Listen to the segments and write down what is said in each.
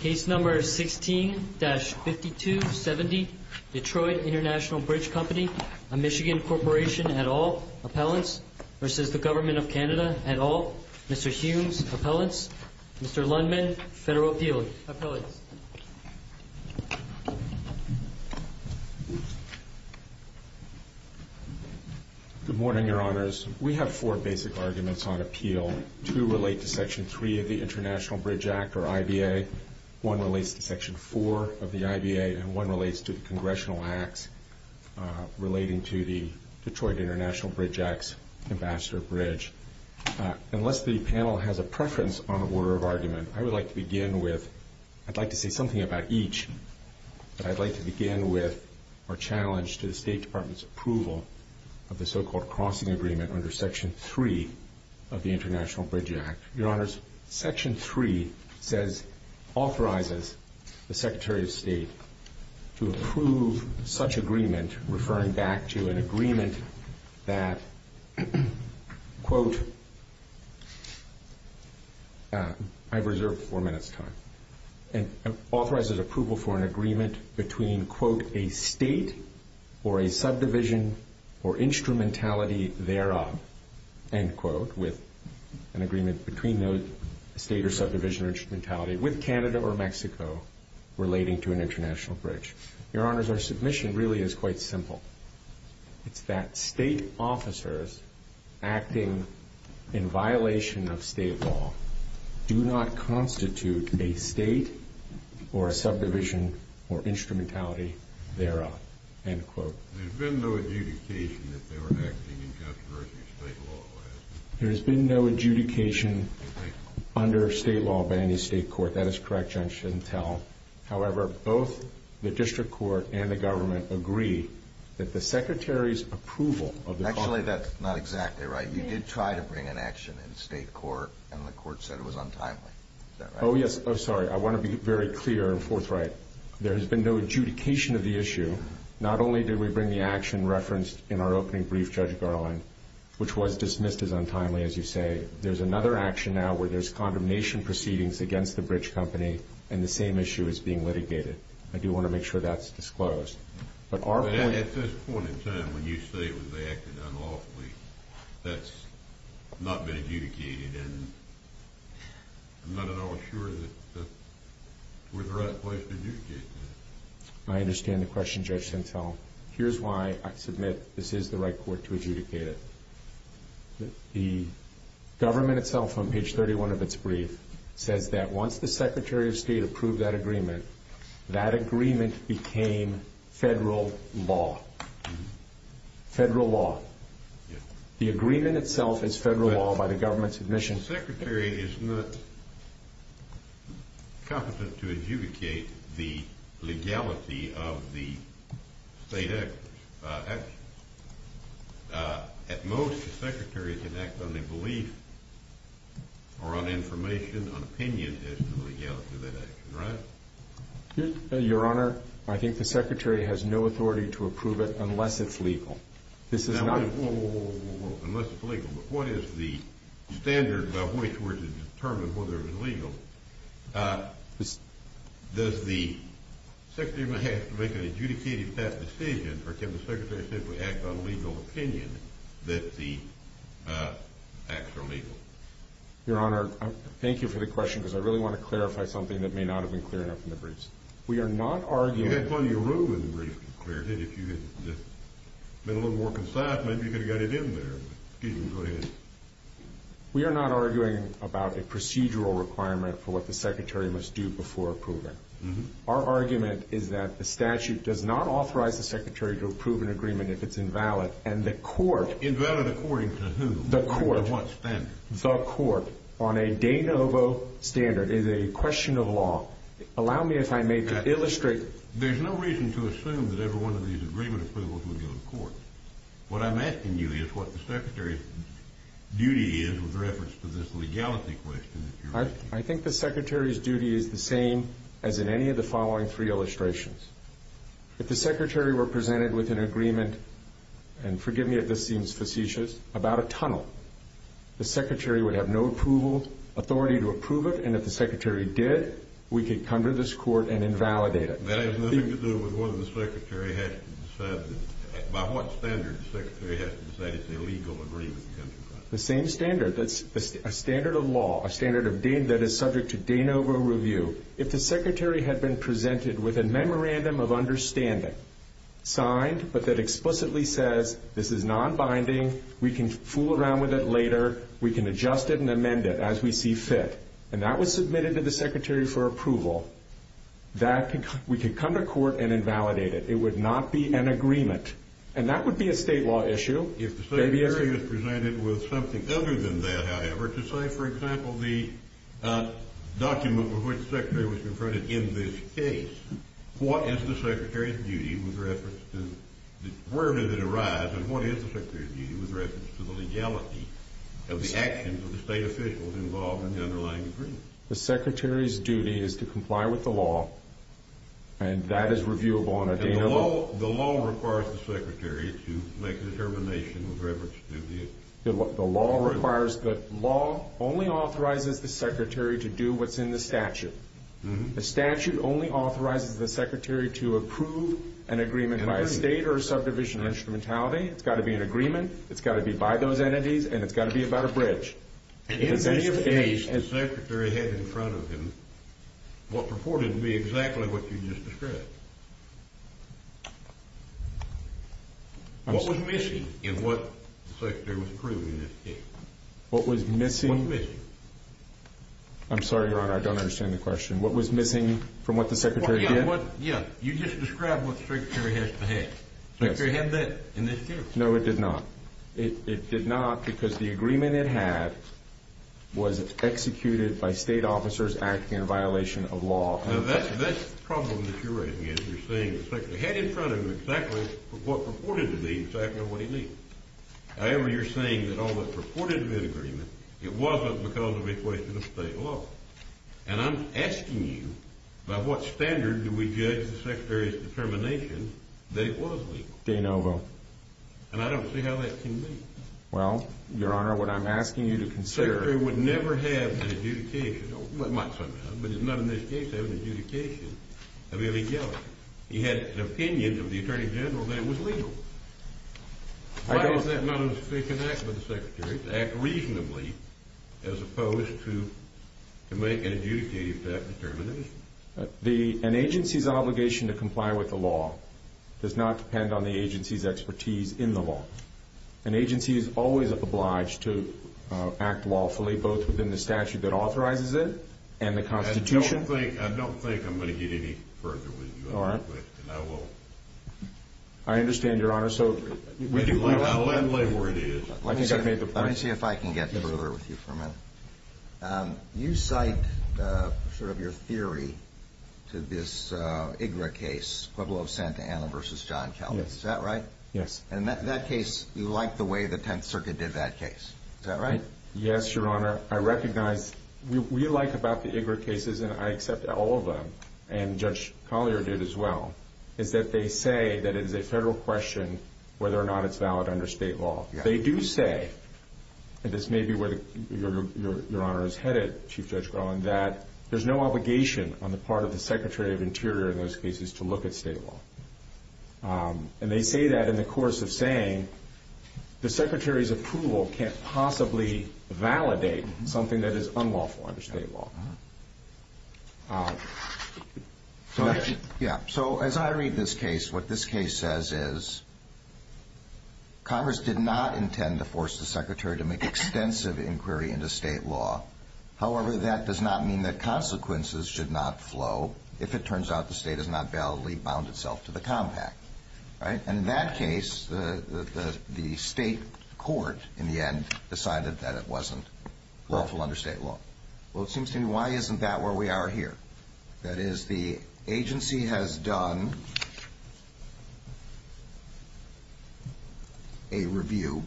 Case No. 16-5270, Detroit International Bridge Company, a Michigan Corporation et al., Appellants v. Government of Canada et al., Mr. Humes, Appellants, Mr. Lundman, Federal Appeal, Appellants. Good morning, Your Honors. We have four basic arguments on appeal. Two relate to Section 3 of the International Bridge Act, or IBA, one relates to Section 4 of the IBA, and one relates to the Congressional Acts relating to the Detroit International Bridge Act's Ambassador Bridge. Unless the panel has a preference on the order of argument, I would like to begin with, I'd like to say something about each, but I'd like to begin with our challenge to the State Department's approval of the so-called crossing agreement under Section 3 of the International Bridge Act. Your Honors, Section 3 says, authorizes the Secretary of State to approve such agreement, referring back to an agreement that, quote, I've reserved four minutes' time, and authorizes approval for an agreement between, quote, a State or a subdivision or instrumentality thereof, end quote, with an agreement between those State or subdivision or instrumentality with Canada or Mexico relating to an international bridge. Your Honors, our submission really is quite simple. It's that State officers acting in violation of State law do not constitute a State or a subdivision or instrumentality thereof, end quote. There's been no adjudication that they were acting in controversy of State law. There has been no adjudication under State law by any State court. That is correct, Judge, I shouldn't tell. However, both the District Court and the government agree that the Secretary's approval of the crossing agreement... Actually, that's not exactly right. You did try to bring an action in State court, and the court said it was untimely. Is that right? Oh, yes. Oh, sorry. I want to be very clear and forthright. There has been no adjudication of the issue. Not only did we bring the action referenced in our opening brief, Judge Garland, which was dismissed as untimely, as you say. There's another action now where there's condemnation proceedings against the bridge company, and the same issue is being litigated. I do want to make sure that's disclosed. At this point in time, when you say it was acted unlawfully, that's not been adjudicated, and I'm not at all sure that we're at the right place to adjudicate that. I understand the question, Judge Sintel. Here's why I submit this is the right court to adjudicate it. The government itself, on That agreement became Federal law. Federal law. The agreement itself is Federal law by the government's admission. The Secretary is not competent to adjudicate the legality of the State actions. At most, the Secretary can act on a belief or on information, on Your Honor, I think the Secretary has no authority to approve it unless it's legal. This is not... Whoa, whoa, whoa. Unless it's legal. But what is the standard by which we're to determine whether it's legal? Does the Secretary have to make an adjudicated decision, or can the Secretary simply act on a legal opinion that the acts are legal? Your Honor, thank you for the question, because I really want to clarify something that may not have been clear enough in the briefs. We are not arguing... You had plenty of room in the briefs to clear it. If you had been a little more concise, maybe you could have got it in there. Excuse me, go ahead. We are not arguing about a procedural requirement for what the Secretary must do before approving. Our argument is that the statute does not authorize the Secretary to approve an agreement if it's invalid, and the court... Invalid according to who? The court. According to what standard? The court, on a de novo standard, is a question of law. Allow me, if I may, to illustrate... There's no reason to assume that every one of these agreement approvals would go to court. What I'm asking you is what the Secretary's duty is with reference to this legality question that you're asking. I think the Secretary's duty is the same as in any of the following three illustrations. If the Secretary were presented with an agreement, and forgive me if this seems facetious, about a tunnel, the Secretary would have no authority to approve it, and if the Secretary did, we could come to this court and invalidate it. That has nothing to do with whether the Secretary has to decide, by what standard the Secretary has to decide it's illegal to agree with the country. The same standard, a standard of law, a standard that is subject to de novo review. If the Secretary had been presented with a memorandum of understanding, signed, but that explicitly says this is non-binding, we can fool around with it later, we can adjust it and amend it as we see fit, and that was submitted to the Secretary for approval, we could come to court and invalidate it. It would not be an agreement, and that would be a state law issue. If the Secretary was presented with something other than that, however, to say, for example, the document with which the Secretary was confronted in this case, what is the Secretary's duty with reference to, where did it arise, and what is the Secretary's duty with reference to the legality of the actions of the state officials involved in the underlying agreement? The Secretary's duty is to comply with the law, and that is reviewable under de novo. And the law requires the Secretary to make a determination with reference to the agreement. The law requires, the law only authorizes the Secretary to do what's in the statute. The statute only authorizes the Secretary to approve an agreement by a state or a subdivision or instrumentality. It's got to be an agreement, it's got to be by those entities, and it's got to be about a bridge. In this case, the Secretary had in front of him what purported to be exactly what you just described. What was missing in what the Secretary was proving in this case? What was missing? I'm sorry, Your Honor, I don't understand the question. What was missing from what the Secretary did? Yeah, you just described what the Secretary has to have. The Secretary had that in this case. No, it did not. It did not because the agreement it had was executed by state officers acting in violation of law. Now, that's the problem that you're raising is you're saying the Secretary had in front of him exactly what purported to be exactly what he needed. However, you're saying that all that purported to be an agreement, it wasn't because of a violation of state law. And I'm asking you, by what standard do we judge the Secretary's determination that it was legal? De novo. And I don't see how that can be. Well, Your Honor, what I'm asking you to consider— The Secretary would never have an adjudication. Well, he might sometimes, but he's not in this case having an adjudication of illegality. He had an opinion of the Attorney General that it was legal. Why does that not necessarily connect with the Secretary to act reasonably as opposed to make an adjudicated determination? An agency's obligation to comply with the law does not depend on the agency's expertise in the law. An agency is always obliged to act lawfully, both within the statute that authorizes it and the Constitution. I don't think I'm going to get any further with you on that question. All right. I will. I understand, Your Honor. Let me see if I can get the ruler with you for a minute. You cite sort of your theory to this IGRA case, Pueblo of Santa Ana v. John Calvin. Is that right? Yes. And that case, you like the way the Tenth Circuit did that case. Is that right? Yes, Your Honor. I recognize we like about the IGRA cases, and I accept all of them, and Judge Collier did as well, is that they say that it is a federal question whether or not it's valid under state law. They do say, and this may be where Your Honor is headed, Chief Judge Groen, that there's no obligation on the part of the Secretary of Interior in those cases to look at state law. And they say that in the course of saying the Secretary's approval can't possibly validate something that is unlawful under state law. So as I read this case, what this case says is Congress did not intend to force the Secretary to make extensive inquiry into state law. However, that does not mean that consequences should not flow if it turns out the state has not validly bound itself to the compact. And in that case, the state court, in the end, decided that it wasn't lawful under state law. Well, it seems to me, why isn't that where we are here? That is, the agency has done a review.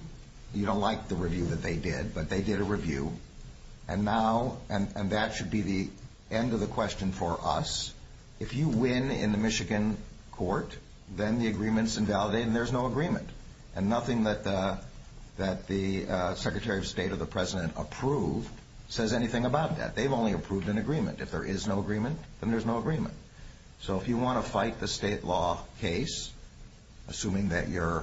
You don't like the review that they did, but they did a review. And that should be the end of the question for us. If you win in the Michigan court, then the agreement's invalidated and there's no agreement. And nothing that the Secretary of State or the President approved says anything about that. They've only approved an agreement. If there is no agreement, then there's no agreement. So if you want to fight the state law case, assuming that you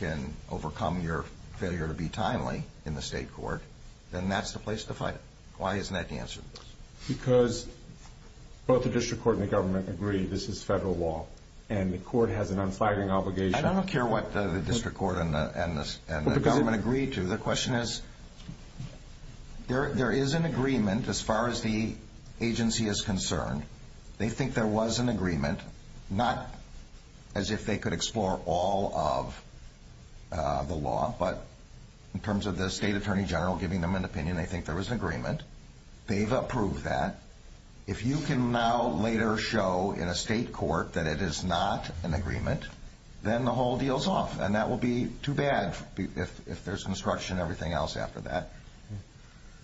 can overcome your failure to be timely in the state court, then that's the place to fight it. Why isn't that the answer to this? Because both the district court and the government agree this is federal law. And the court has an unflagging obligation. I don't care what the district court and the government agree to. The question is, there is an agreement as far as the agency is concerned. They think there was an agreement, not as if they could explore all of the law, but in terms of the state attorney general giving them an opinion, they think there was an agreement. They've approved that. If you can now later show in a state court that it is not an agreement, then the whole deal's off. And that will be too bad if there's construction and everything else after that.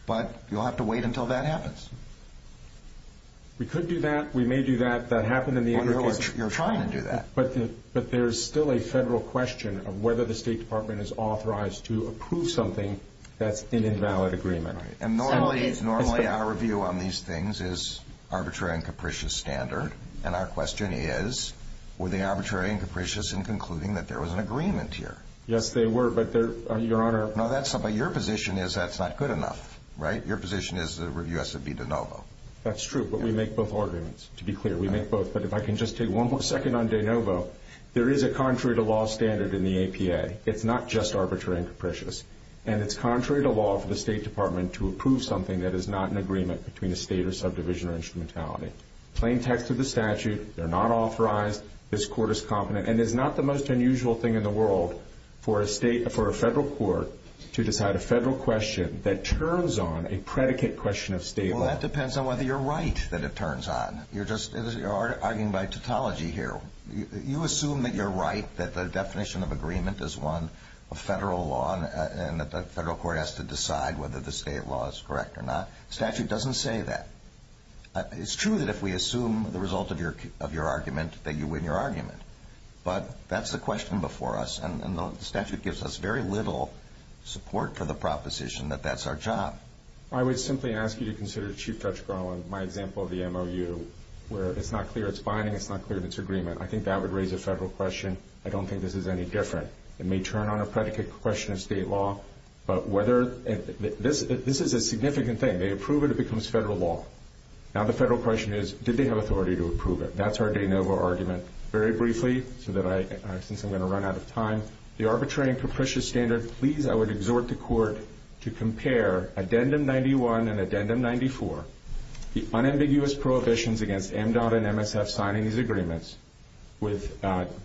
But you'll have to wait until that happens. We could do that. We may do that. That happened in the other case. You're trying to do that. But there's still a federal question of whether the State Department is authorized to approve something that's an invalid agreement. And normally our review on these things is arbitrary and capricious standard. And our question is, were they arbitrary and capricious in concluding that there was an agreement here? Yes, they were, but, Your Honor. No, but your position is that's not good enough, right? Your position is the review has to be de novo. That's true, but we make both arguments. To be clear, we make both. But if I can just take one more second on de novo, there is a contrary to law standard in the APA. It's not just arbitrary and capricious. And it's contrary to law for the State Department to approve something that is not an agreement between a state or subdivision or instrumentality. Plain text of the statute, they're not authorized, this court is competent. And it's not the most unusual thing in the world for a federal court to decide a federal question that turns on a predicate question of state law. Well, that depends on whether you're right that it turns on. You're arguing by tautology here. You assume that you're right, that the definition of agreement is one of federal law, and that the federal court has to decide whether the state law is correct or not. The statute doesn't say that. It's true that if we assume the result of your argument, that you win your argument. But that's the question before us. And the statute gives us very little support for the proposition that that's our job. I would simply ask you to consider Chief Judge Garland, my example of the MOU, where it's not clear it's binding. It's not clear that it's agreement. I think that would raise a federal question. I don't think this is any different. It may turn on a predicate question of state law. But this is a significant thing. They approve it, it becomes federal law. Now the federal question is, did they have authority to approve it? That's our de novo argument. Very briefly, since I'm going to run out of time, the arbitrary and capricious standard, please, I would exhort the court to compare Addendum 91 and Addendum 94, the unambiguous prohibitions against MDOT and MSF signing these agreements, with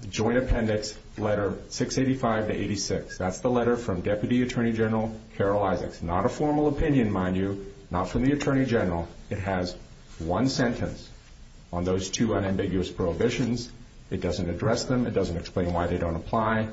joint appendix letter 685 to 86. That's the letter from Deputy Attorney General Carol Isaacs. Not a formal opinion, mind you, not from the Attorney General. It has one sentence on those two unambiguous prohibitions. It doesn't address them. It doesn't explain why they don't apply.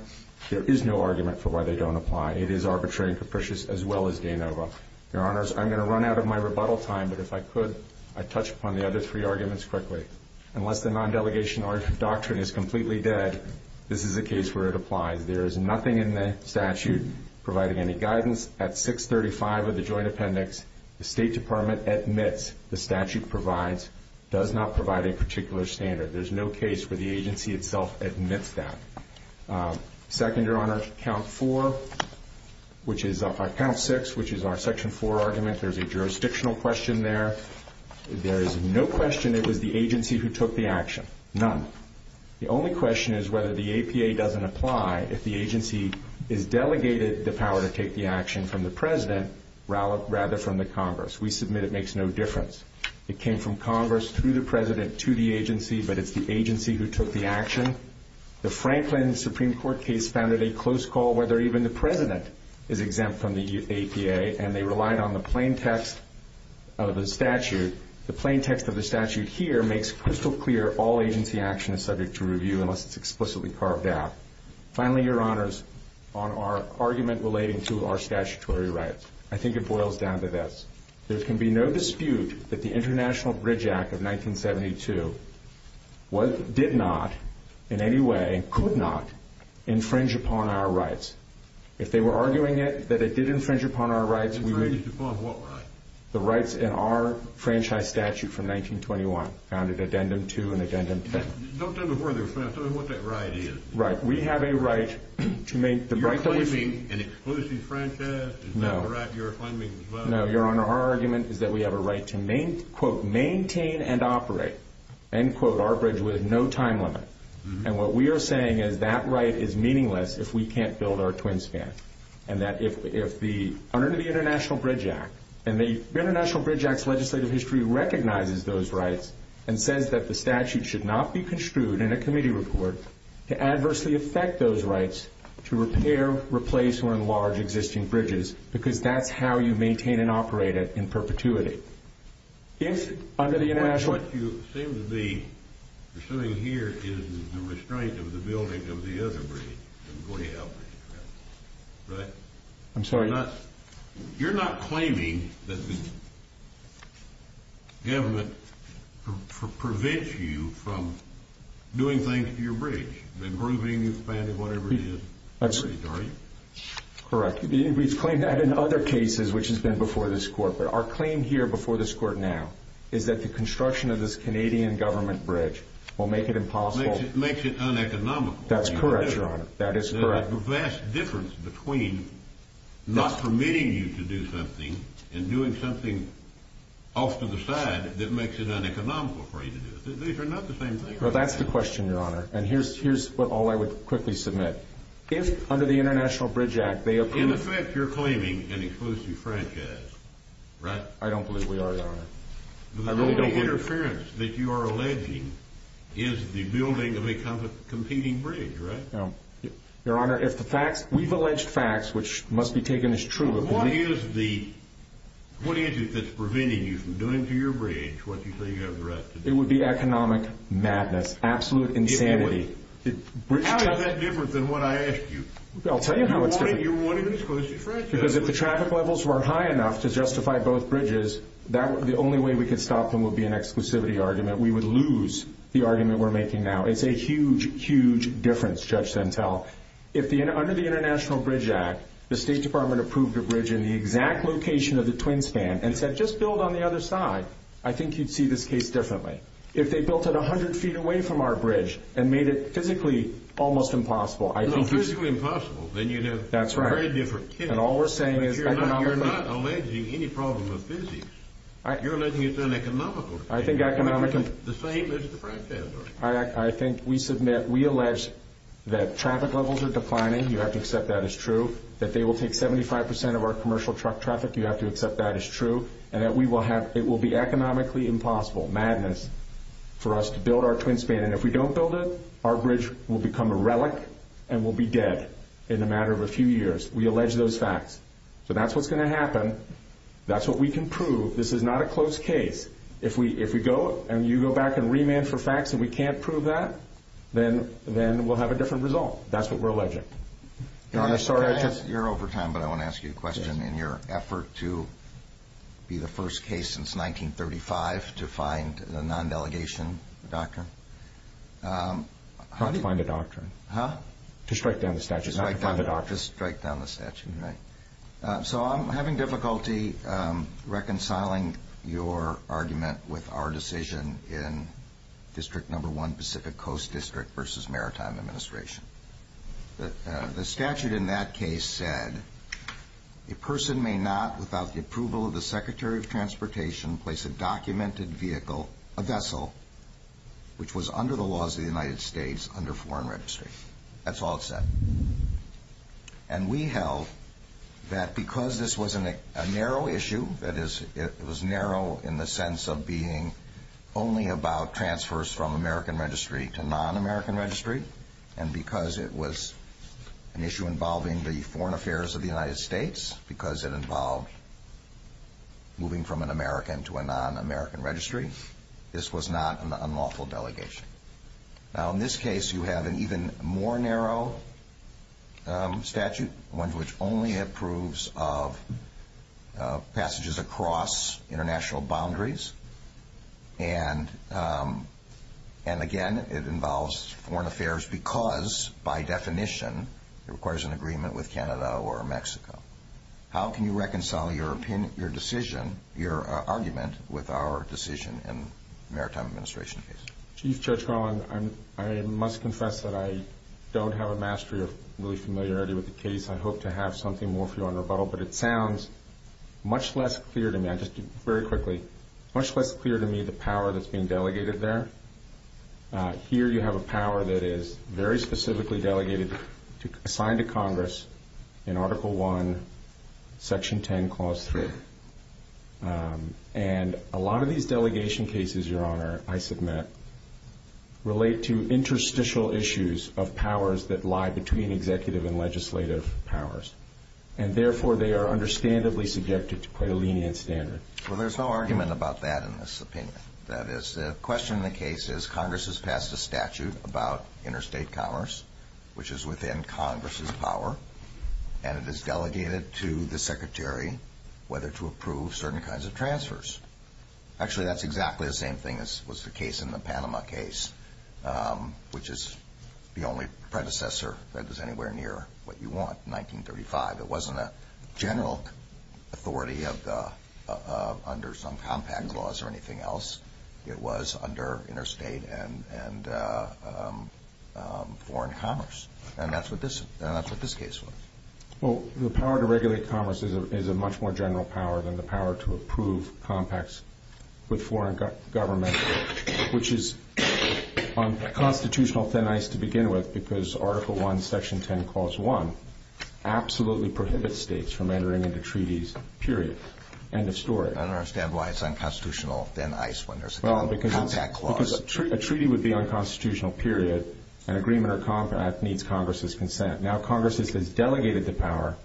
There is no argument for why they don't apply. It is arbitrary and capricious as well as de novo. Your Honors, I'm going to run out of my rebuttal time, but if I could I'd touch upon the other three arguments quickly. Unless the non-delegation doctrine is completely dead, this is a case where it applies. There is nothing in the statute providing any guidance. At 635 of the joint appendix, the State Department admits the statute provides, does not provide a particular standard. There's no case where the agency itself admits that. Second, Your Honors, count 6, which is our section 4 argument. There's a jurisdictional question there. There is no question it was the agency who took the action, none. The only question is whether the APA doesn't apply if the agency is delegated the power to take the action from the President rather from the Congress. We submit it makes no difference. It came from Congress through the President to the agency, but it's the agency who took the action. The Franklin Supreme Court case founded a close call whether even the President is exempt from the APA, and they relied on the plain text of the statute. The plain text of the statute here makes crystal clear all agency action is subject to review unless it's explicitly carved out. Finally, Your Honors, on our argument relating to our statutory rights, I think it boils down to this. There can be no dispute that the International Bridge Act of 1972 did not in any way, could not, infringe upon our rights. If they were arguing it, that it did infringe upon our rights, we would. Infringe upon what rights? The rights in our franchise statute from 1921, found at addendum 2 and addendum 10. Don't tell me where they're from. Tell me what that right is. Right. We have a right to make the right that we see. You're claiming an exclusive franchise? No. No, Your Honor, our argument is that we have a right to, quote, maintain and operate, end quote, our bridge with no time limit. And what we are saying is that right is meaningless if we can't build our twin span. And that if the, under the International Bridge Act, and the International Bridge Act's legislative history recognizes those rights and says that the statute should not be construed in a committee report to adversely affect those rights to repair, replace, or enlarge existing bridges because that's how you maintain and operate it in perpetuity. If under the International Bridge Act. What you seem to be pursuing here is the restraint of the building of the other bridge. Right? I'm sorry. You're not claiming that the government prevents you from doing things to your bridge, improving, expanding, whatever it is, are you? Correct. We've claimed that in other cases, which has been before this court. But our claim here before this court now is that the construction of this Canadian government bridge will make it impossible. Makes it uneconomical. That's correct, Your Honor. That is correct. There's a vast difference between not permitting you to do something and doing something off to the side that makes it uneconomical for you to do it. These are not the same thing. Well, that's the question, Your Honor. And here's what all I would quickly submit. If under the International Bridge Act they approve. In effect, you're claiming an exclusive franchise, right? I don't believe we are, Your Honor. The only interference that you are alleging is the building of a competing bridge, right? Your Honor, we've alleged facts which must be taken as true. What is it that's preventing you from doing to your bridge what you say you have the right to do? It would be economic madness, absolute insanity. How is that different than what I asked you? I'll tell you how it's different. You wanted an exclusive franchise. Because if the traffic levels were high enough to justify both bridges, the only way we could stop them would be an exclusivity argument. We would lose the argument we're making now. It's a huge, huge difference, Judge Sentelle. Under the International Bridge Act, the State Department approved a bridge in the exact location of the Twin Span and said just build on the other side. I think you'd see this case differently. If they built it 100 feet away from our bridge and made it physically almost impossible. If it was physically impossible, then you'd have a very different case. That's right. And all we're saying is economically. But Your Honor, you're not alleging any problem of physics. You're alleging it's an economical case. I think economically. The same as the franchise, right? I think we submit, we allege that traffic levels are declining. You have to accept that as true. That they will take 75 percent of our commercial truck traffic. You have to accept that as true. And that we will have, it will be economically impossible. Madness. For us to build our Twin Span. And if we don't build it, our bridge will become a relic. And we'll be dead in a matter of a few years. We allege those facts. So that's what's going to happen. That's what we can prove. This is not a closed case. If we go and you go back and remand for facts and we can't prove that, then we'll have a different result. That's what we're alleging. Your Honor, sorry I just... You're over time, but I want to ask you a question. In your effort to be the first case since 1935 to find a non-delegation doctrine. Not to find a doctrine. Huh? To strike down the statute. Not to find a doctrine. To strike down the statute, right. So I'm having difficulty reconciling your argument with our decision in District No. 1 Pacific Coast District versus Maritime Administration. The statute in that case said a person may not, without the approval of the Secretary of Transportation, place a documented vehicle, a vessel, which was under the laws of the United States under foreign registry. That's all it said. And we held that because this was a narrow issue, that it was narrow in the sense of being only about transfers from American registry to non-American registry, and because it was an issue involving the foreign affairs of the United States, because it involved moving from an American to a non-American registry, this was not an unlawful delegation. Now in this case you have an even more narrow statute, one which only approves of passages across international boundaries, and, again, it involves foreign affairs because, by definition, it requires an agreement with Canada or Mexico. How can you reconcile your decision, your argument, with our decision in Maritime Administration case? Chief Judge Garland, I must confess that I don't have a mastery of really familiarity with the case. I hope to have something more for you on rebuttal, but it sounds much less clear to me. And just very quickly, much less clear to me the power that's being delegated there. Here you have a power that is very specifically delegated, assigned to Congress in Article I, Section 10, Clause 3. And a lot of these delegation cases, Your Honor, I submit, relate to interstitial issues of powers that lie between executive and legislative powers, and therefore they are understandably subjected to quite a lenient standard. Well, there's no argument about that in this opinion. That is, the question in the case is Congress has passed a statute about interstate commerce, which is within Congress's power, and it is delegated to the Secretary whether to approve certain kinds of transfers. Actually, that's exactly the same thing as was the case in the Panama case, which is the only predecessor that is anywhere near what you want, 1935. It wasn't a general authority under some compact laws or anything else. It was under interstate and foreign commerce. And that's what this case was. Well, the power to regulate commerce is a much more general power than the power to approve compacts with foreign government, which is on constitutional thin ice to begin with because Article 1, Section 10, Clause 1, absolutely prohibits states from entering into treaties, period. End of story. I don't understand why it's on constitutional thin ice when there's a compact clause. Well, because a treaty would be on constitutional, period, and agreement or compact needs Congress's consent. Now, Congress has delegated the power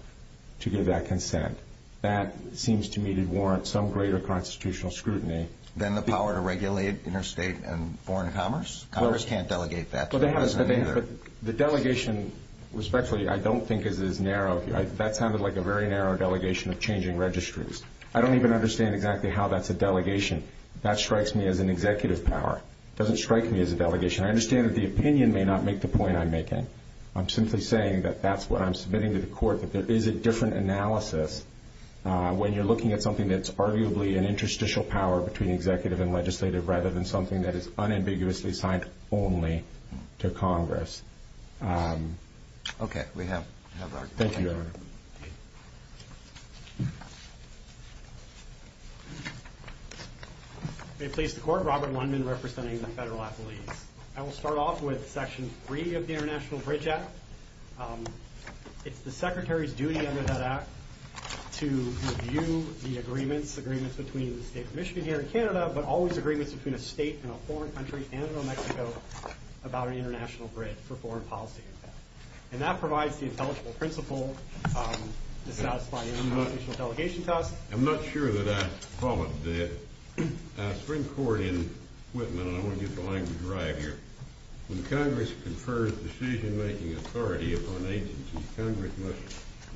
to give that consent. That seems to me to warrant some greater constitutional scrutiny. Than the power to regulate interstate and foreign commerce? Congress can't delegate that. The delegation, respectfully, I don't think is as narrow. That sounded like a very narrow delegation of changing registries. I don't even understand exactly how that's a delegation. That strikes me as an executive power. It doesn't strike me as a delegation. I understand that the opinion may not make the point I'm making. I'm simply saying that that's what I'm submitting to the court, that there is a different analysis when you're looking at something that's arguably an interstitial power between executive and legislative rather than something that is unambiguously signed only to Congress. Okay. We have our question. Thank you. May it please the Court. Robert Lundman representing the federal athletes. I will start off with Section 3 of the International Bridge Act. It's the Secretary's duty under that act to review the agreements, agreements between the state of Michigan here and Canada, but always agreements between a state and a foreign country and New Mexico about an international bridge for foreign policy. And that provides the intelligible principle to satisfy the international delegation test. I'm not sure that I followed the Supreme Court in Whitman, and I want to get the language right here. When Congress confers decision-making authority upon agencies, Congress must,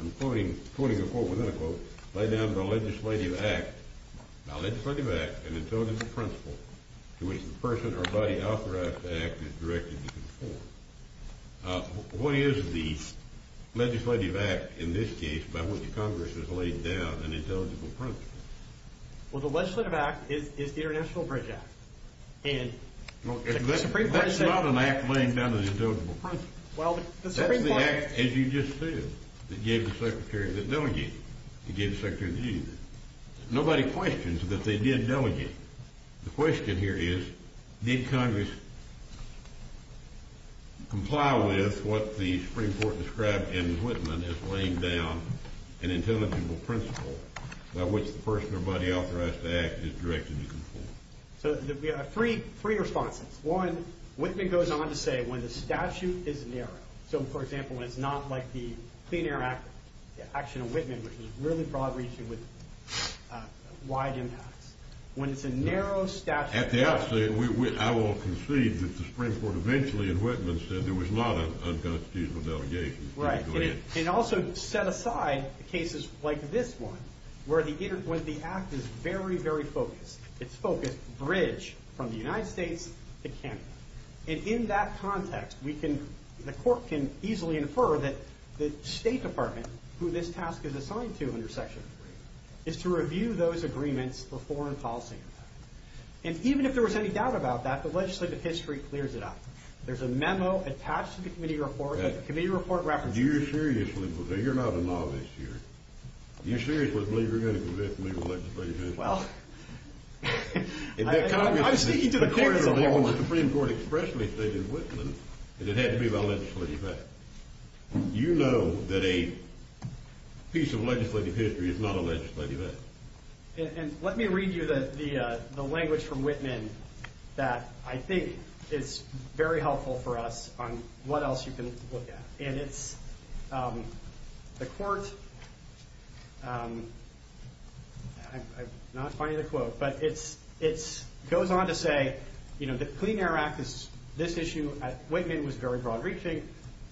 I'm quoting a quote within a quote, lay down the legislative act, a legislative act, an intelligible principle, to which the person or body authorized to act is directed to conform. What is the legislative act in this case by which Congress has laid down an intelligible principle? Well, the legislative act is the International Bridge Act. That's not an act laying down an intelligible principle. That's the act, as you just said, that gave the Secretary the delegate. It gave the Secretary the duty. Nobody questions that they did delegate. The question here is did Congress comply with what the Supreme Court described in Whitman as laying down an intelligible principle by which the person or body authorized to act is directed to conform. So we have three responses. One, Whitman goes on to say when the statute is narrow. So, for example, when it's not like the Clean Air Act, the action of Whitman, which was really broad-reaching with wide impacts. When it's a narrow statute. At the outset, I will concede that the Supreme Court eventually in Whitman said there was not an unconstitutional delegation. Right, and it also set aside cases like this one where the act is very, very focused. It's focused bridge from the United States to Canada. And in that context, the court can easily infer that the State Department, who this task is assigned to under Section 3, is to review those agreements for foreign policy. And even if there was any doubt about that, the legislative history clears it up. There's a memo attached to the committee report that the committee report references. Do you seriously believe, you're not a novice here, do you seriously believe you're going to convict me of legislative history? Well... I see you did a course on that one. The Supreme Court expressly stated in Whitman that it had to be about legislative history. You know that a piece of legislative history is not a legislative act. And let me read you the language from Whitman that I think is very helpful for us on what else you can look at. And it's... The court... I'm not finding the quote, but it goes on to say, you know, the Clean Air Act, this issue at Whitman was very broad-reaching.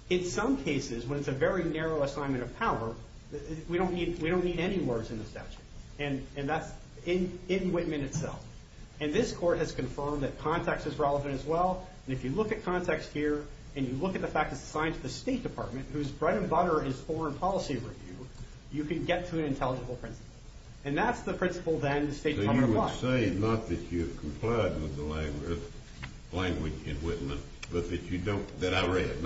In some cases, when it's a very narrow assignment of power, we don't need any words in the statute. And that's in Whitman itself. And this court has confirmed that context is relevant as well. And if you look at context here, and you look at the fact it's assigned to the State Department, whose bread and butter is foreign policy review, you can get to an intelligible principle. And that's the principle then the State Department wants. So you're saying not that you've complied with the language in Whitman, but that you don't... that I read.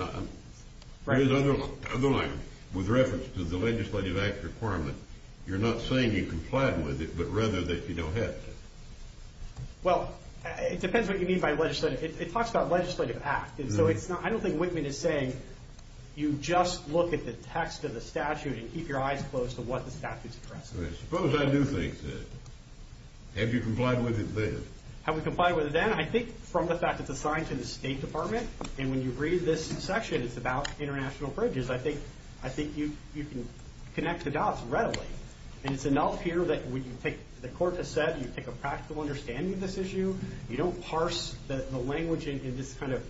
There's other language. With reference to the Legislative Act requirement, you're not saying you complied with it, but rather that you don't have to. Well, it depends what you mean by legislative. It talks about legislative act. And so it's not... I don't think Whitman is saying you just look at the text of the statute and keep your eyes closed to what the statute's addressing. Suppose I do think so. Have you complied with it then? Have we complied with it then? I think from the fact it's assigned to the State Department, and when you read this section, it's about international bridges, I think you can connect the dots readily. And it's enough here that when you take... the court has said you take a practical understanding of this issue, you don't parse the language in this kind of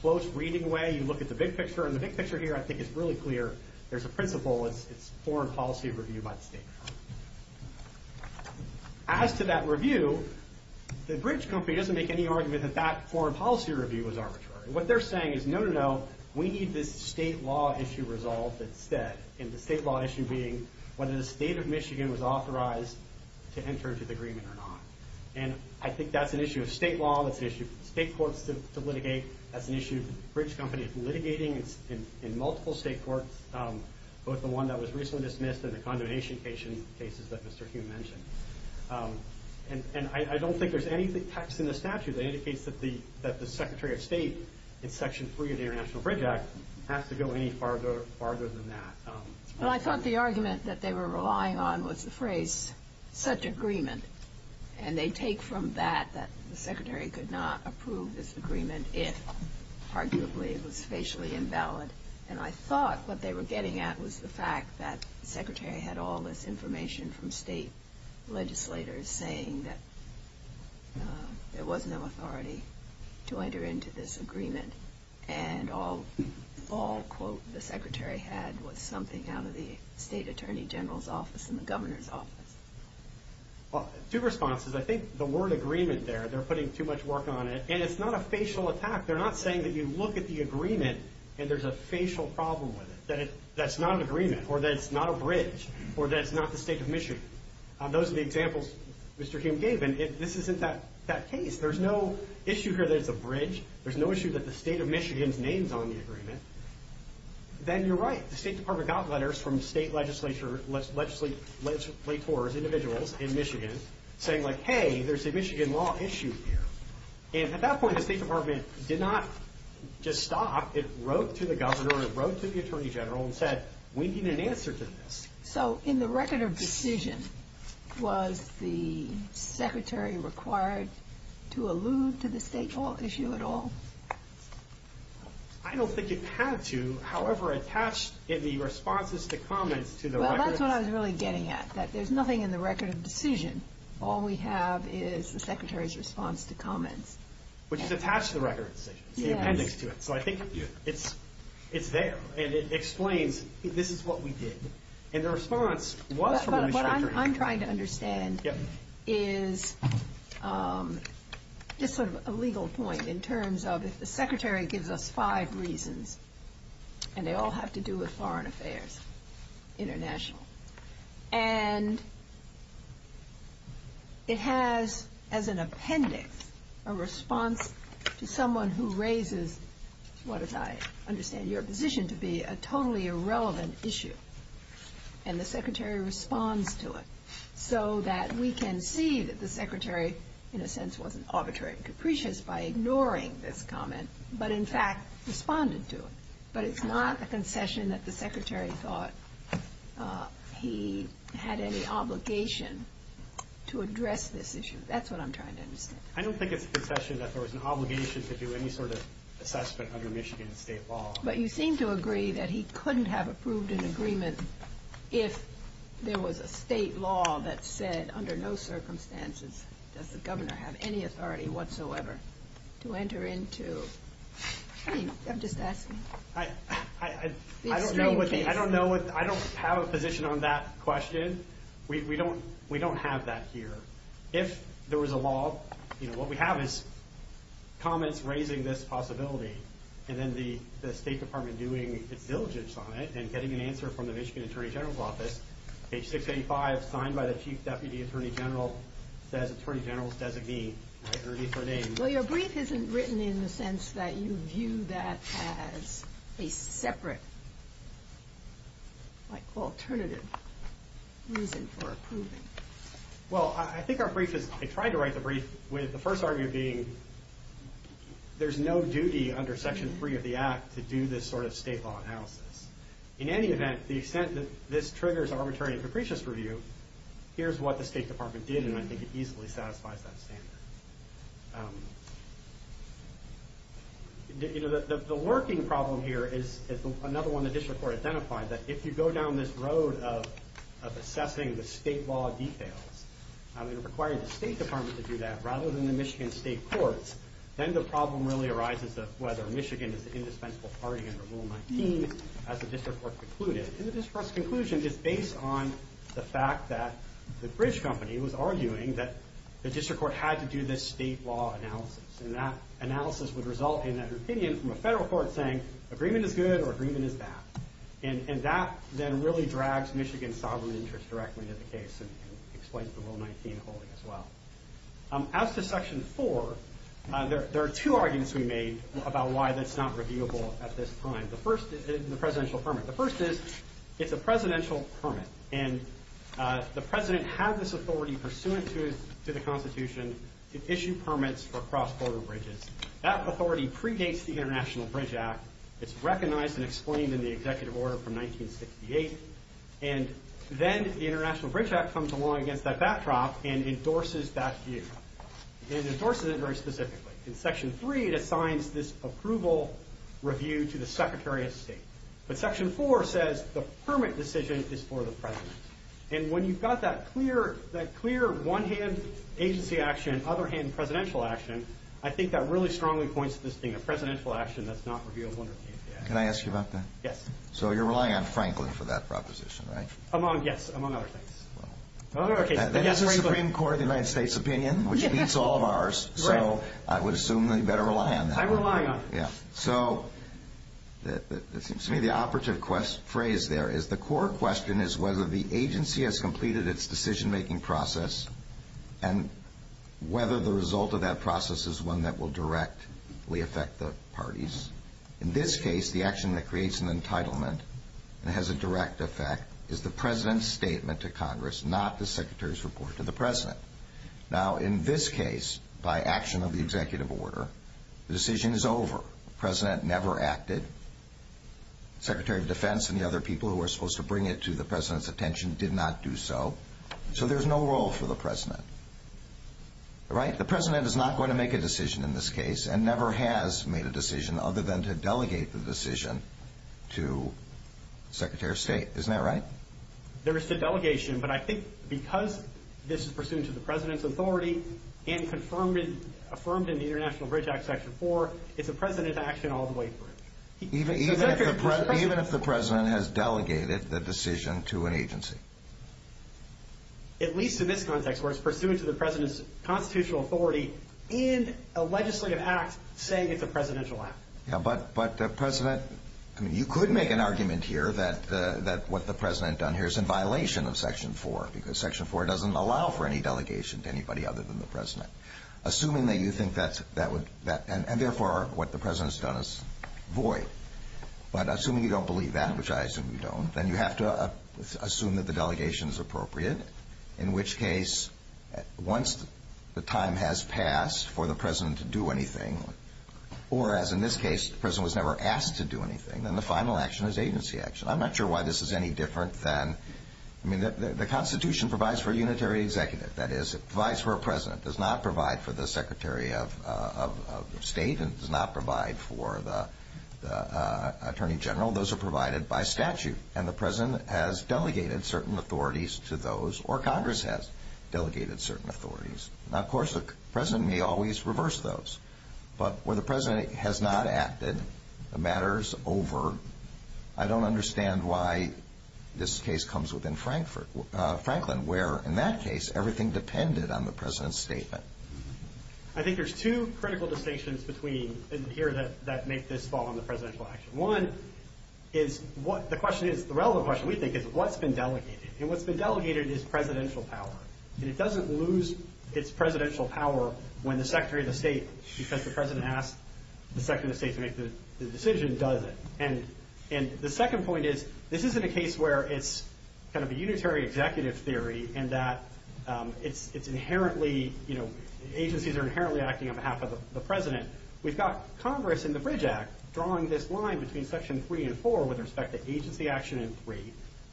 close reading way, you look at the big picture. And the big picture here, I think, is really clear. There's a principle. It's foreign policy review by the State Department. As to that review, the bridge company doesn't make any argument that that foreign policy review was arbitrary. What they're saying is, no, no, no, we need this state law issue resolved instead. And the state law issue being whether the State of Michigan was authorized to enter into the agreement or not. And I think that's an issue of state law, that's an issue of state courts to litigate, that's an issue of bridge companies litigating in multiple state courts, both the one that was recently dismissed and the condonation cases that Mr. Hume mentioned. And I don't think there's any text in the statute that indicates that the Secretary of State in Section 3 of the International Bridge Act has to go any farther than that. Well, I thought the argument that they were relying on was the phrase, such agreement. And they take from that that the Secretary could not approve this agreement if, arguably, it was facially invalid. And I thought what they were getting at was the fact that the Secretary had all this information from state legislators saying that there was no authority to enter into this agreement. And all, all, quote, the Secretary had was something out of the State Attorney General's office and the Governor's office. Well, two responses. I think the word agreement there, they're putting too much work on it. And it's not a facial attack. They're not saying that you look at the agreement and there's a facial problem with it, that it, that it's not an agreement, or that it's not a bridge, or that it's not the State of Michigan. Those are the examples Mr. Hume gave. And this isn't that, that case. There's no issue here that it's a bridge. There's no issue that the State of Michigan's name's on the agreement. Then you're right. The State Department got letters from state legislature, legislators, individuals in Michigan saying like, hey, there's a Michigan law issue here. And at that point, the State Department did not just stop. It wrote to the Governor, it wrote to the Attorney General and said, we need an answer to this. So in the record of decision, was the Secretary required to allude to the state law issue at all? I don't think it had to. However, attached in the responses to comments to the record... Well, that's what I was really getting at. That there's nothing in the record of decision. All we have is the Secretary's response to comments. Which is attached to the record of decision. It's the appendix to it. So I think it's, it's there. And it explains, this is what we did. And the response was from the Michigan Attorney General. But what I'm trying to understand is just sort of a legal point in terms of if the Secretary gives us five reasons and they all have to do with foreign affairs, international. And it has as an appendix a response to someone who raises what I understand your position to be a totally irrelevant issue. And the Secretary responds to it. So that we can see that the Secretary in a sense wasn't arbitrary and capricious by ignoring this comment. But in fact responded to it. But it's not a concession that the Secretary thought he had any obligation to address this issue. That's what I'm trying to understand. I don't think it's a concession that there was an obligation to do any sort of assessment under Michigan state law. But you seem to agree that he couldn't have approved an agreement if there was a state law that said under no circumstances does the Governor have any authority whatsoever to enter into... I'm just asking. I don't have a position on that question. We don't have that here. If there was a law, what we have is comments raising this possibility. And then the State Department doing its diligence on it and getting an answer from the Michigan Attorney General's office. Page 685, signed by the Chief Deputy Attorney General that has Attorney General's designee. Well, your brief isn't written in the sense that you view that as a separate alternative reason for approving. Well, I think our brief is... I tried to write the brief with the first argument being there's no duty under Section 3 of the Act to do this sort of state law analysis. In any event, the extent that this triggers arbitrary and capricious review, here's what the State Department did, and I think it easily satisfies that standard. The lurking problem here is another one the District Court identified, that if you go down this road of assessing the state law details, it would require the State Department to do that rather than the Michigan State Courts. Then the problem really arises of whether Michigan is the indispensable party under Rule 19 as the District Court concluded. And the District Court's conclusion is based on the fact that the British company was arguing that the District Court had to do this state law analysis. And that analysis would result in an opinion from a federal court saying, agreement is good or agreement is bad. And that then really drags Michigan's sovereign interest directly into the case and explains the Rule 19 holding as well. As to Section 4, there are two arguments we made about why that's not reviewable at this time. The first is the presidential permit. The first is it's a presidential permit. And the president had this authority pursuant to the Constitution to issue permits for cross-border bridges. That authority predates the International Bridge Act. It's recognized and explained in the executive order from 1968. And then the International Bridge Act comes along against that backdrop and endorses that view. And it endorses it very specifically. In Section 3, it assigns this approval review to the Secretary of State. But Section 4 says the permit decision is for the president. And when you've got that clear one-hand agency action, other-hand presidential action, I think that really strongly points to this being a presidential action that's not reviewable under the agency act. Can I ask you about that? Yes. So you're relying on Franklin for that proposition, right? Yes, among other things. That's the Supreme Court of the United States opinion, which beats all of ours. Right. So I would assume that you better rely on that. I rely on it. Yeah. So it seems to me the operative phrase there is the core question is whether the agency has completed its decision-making process and whether the result of that process is one that will directly affect the parties. In this case, the action that creates an entitlement and has a direct effect is the president's statement to Congress, not the secretary's report to the president. Now, in this case, by action of the executive order, the decision is over. The president never acted. The Secretary of Defense and the other people who were supposed to bring it to the president's attention did not do so. So there's no role for the president. Right? The president is not going to make a decision in this case and never has made a decision other than to delegate the decision to the Secretary of State. Isn't that right? There is the delegation, but I think because this is pursuant to the president's authority and confirmed and affirmed in the International Bridge Act Section 4, it's a president's action all the way through. Even if the president has delegated the decision to an agency? At least in this context where it's pursuant to the president's constitutional authority and a legislative act saying it's a presidential act. But, President, you could make an argument here that what the president done here is in violation of Section 4 because Section 4 doesn't allow for any delegation to anybody other than the president. Assuming that you think that would, and therefore what the president's done is void, but assuming you don't believe that, which I assume you don't, then you have to assume that the delegation is appropriate, in which case once the time has passed for the president to do anything, or, as in this case, the president was never asked to do anything, then the final action is agency action. I'm not sure why this is any different than, I mean, the Constitution provides for a unitary executive. That is, it provides for a president. It does not provide for the Secretary of State. It does not provide for the Attorney General. Those are provided by statute, and the president has delegated certain authorities to those, or Congress has delegated certain authorities. Now, of course, the president may always reverse those, but where the president has not acted, the matter is over. I don't understand why this case comes within Franklin, where, in that case, everything depended on the president's statement. I think there's two critical distinctions here that make this fall under presidential action. One is what the question is, the relevant question, we think, is what's been delegated, and what's been delegated is presidential power, and it doesn't lose its presidential power when the Secretary of State, because the president asked the Secretary of State to make the decision, does it. And the second point is this isn't a case where it's kind of a unitary executive theory in that it's inherently, you know, agencies are inherently acting on behalf of the president. We've got Congress in the Bridge Act drawing this line between Section 3 and 4 with respect to agency action in 3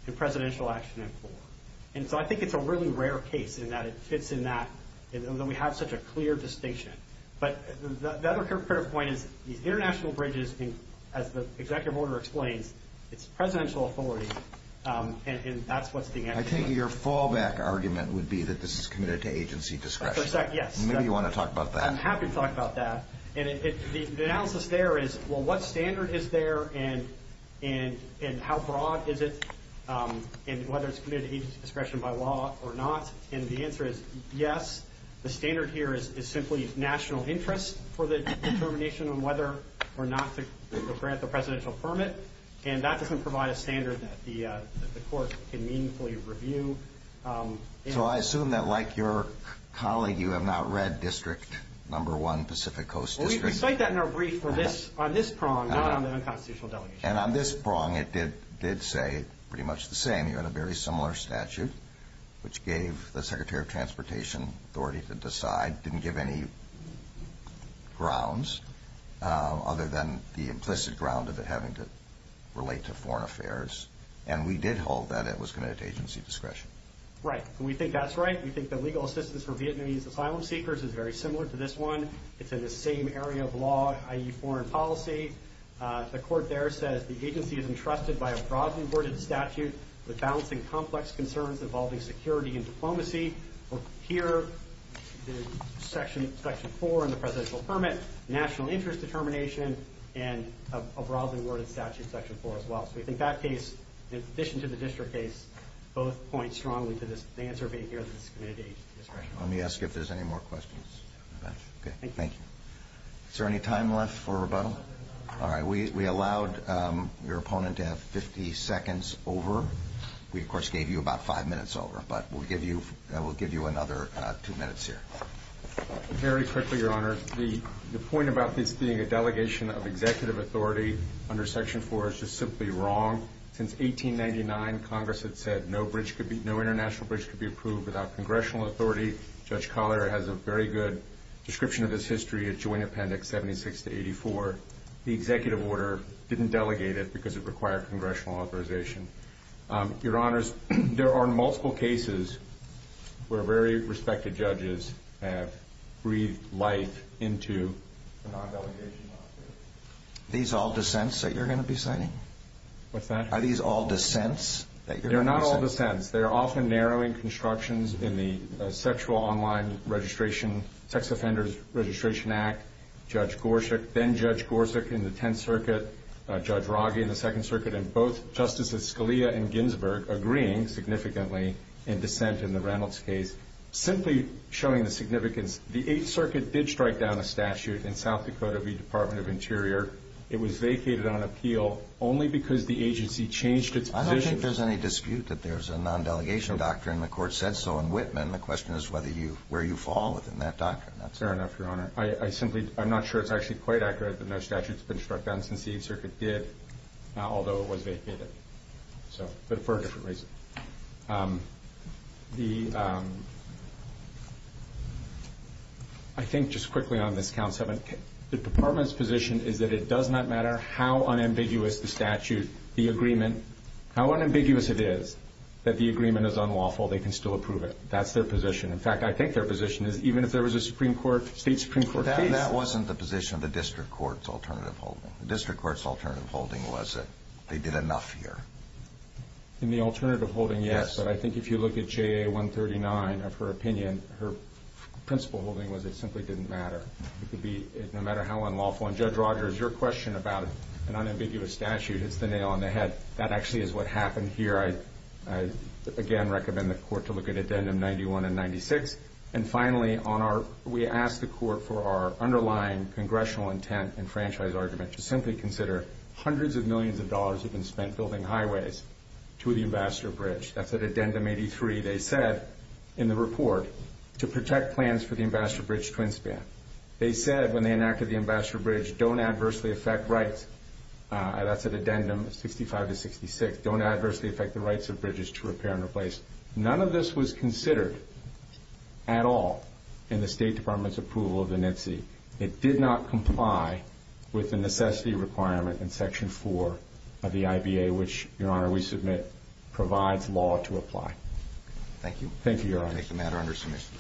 and presidential action in 4, and so I think it's a really rare case in that it fits in that, and that we have such a clear distinction. But the other critical point is these international bridges, as the executive order explains, it's presidential authority, and that's what's being acted on. I think your fallback argument would be that this is committed to agency discretion. Yes. Maybe you want to talk about that. I'm happy to talk about that. And the analysis there is, well, what standard is there, and how broad is it, and whether it's committed to agency discretion by law or not? And the answer is yes. The standard here is simply national interest for the determination on whether or not to grant the presidential permit, and that doesn't provide a standard that the court can meaningfully review. So I assume that, like your colleague, you have not read District No. 1, Pacific Coast District. Well, we cite that in our brief on this prong, not on the unconstitutional delegation. And on this prong, it did say pretty much the same. You had a very similar statute, which gave the Secretary of Transportation authority to decide, didn't give any grounds other than the implicit ground of it having to relate to foreign affairs. And we did hold that it was committed to agency discretion. Right. And we think that's right. We think the legal assistance for Vietnamese asylum seekers is very similar to this one. It's in the same area of law, i.e. foreign policy. The court there says the agency is entrusted by a broadly worded statute with balancing complex concerns involving security and diplomacy. Here, Section 4 on the presidential permit, national interest determination, and a broadly worded statute, Section 4, as well. So we think that case, in addition to the district case, both point strongly to the answer being here that it's committed to agency discretion. Let me ask you if there's any more questions. Okay. Thank you. Is there any time left for rebuttal? All right. We allowed your opponent to have 50 seconds over. We, of course, gave you about five minutes over. But we'll give you another two minutes here. Very quickly, Your Honor. The point about this being a delegation of executive authority under Section 4 is just simply wrong. Since 1899, Congress had said no international bridge could be approved without congressional authority. Judge Collier has a very good description of this history at Joint Appendix 76-84. The executive order didn't delegate it because it required congressional authorization. Your Honors, there are multiple cases where very respected judges have breathed life into a non-delegation law. Are these all dissents that you're going to be citing? What's that? Are these all dissents that you're going to be citing? They're not all dissents. They're often narrowing constructions in the Sexual Online Registration, Sex Offenders Registration Act, Judge Gorsuch, then Judge Gorsuch in the Tenth Circuit, Judge Rogge in the Second Circuit, and both Justices Scalia and Ginsburg agreeing significantly in dissent in the Reynolds case, simply showing the significance. The Eighth Circuit did strike down a statute in South Dakota v. Department of Interior. It was vacated on appeal only because the agency changed its position. I don't think there's any dispute that there's a non-delegation doctrine. The Court said so in Whitman. The question is where you fall within that doctrine. That's fair enough, Your Honor. I simply am not sure it's actually quite accurate that no statute has been struck down since the Eighth Circuit did, although it was vacated, but for a different reason. I think just quickly on this, Counsel, the Department's position is that it does not matter how unambiguous the statute, the agreement, how unambiguous it is that the agreement is unlawful, they can still approve it. That's their position. In fact, I think their position is even if there was a Supreme Court, state Supreme Court case. That wasn't the position of the District Court's alternative holding. The District Court's alternative holding was that they did enough here. In the alternative holding, yes, but I think if you look at JA 139 of her opinion, her principle holding was it simply didn't matter. It could be no matter how unlawful. And, Judge Rogers, your question about an unambiguous statute, it's the nail on the head. That actually is what happened here. I, again, recommend the Court to look at Addendum 91 and 96. And, finally, we ask the Court for our underlying congressional intent and franchise argument to simply consider hundreds of millions of dollars have been spent building highways to the Ambassador Bridge. That's at Addendum 83. They said in the report to protect plans for the Ambassador Bridge twin span. They said when they enacted the Ambassador Bridge, don't adversely affect rights. That's at Addendum 65 to 66. Don't adversely affect the rights of bridges to repair and replace. None of this was considered at all in the State Department's approval of the NITSE. It did not comply with the necessity requirement in Section 4 of the IBA, which, Your Honor, we submit provides law to apply. Thank you. Thank you, Your Honor. Make the matter under submission.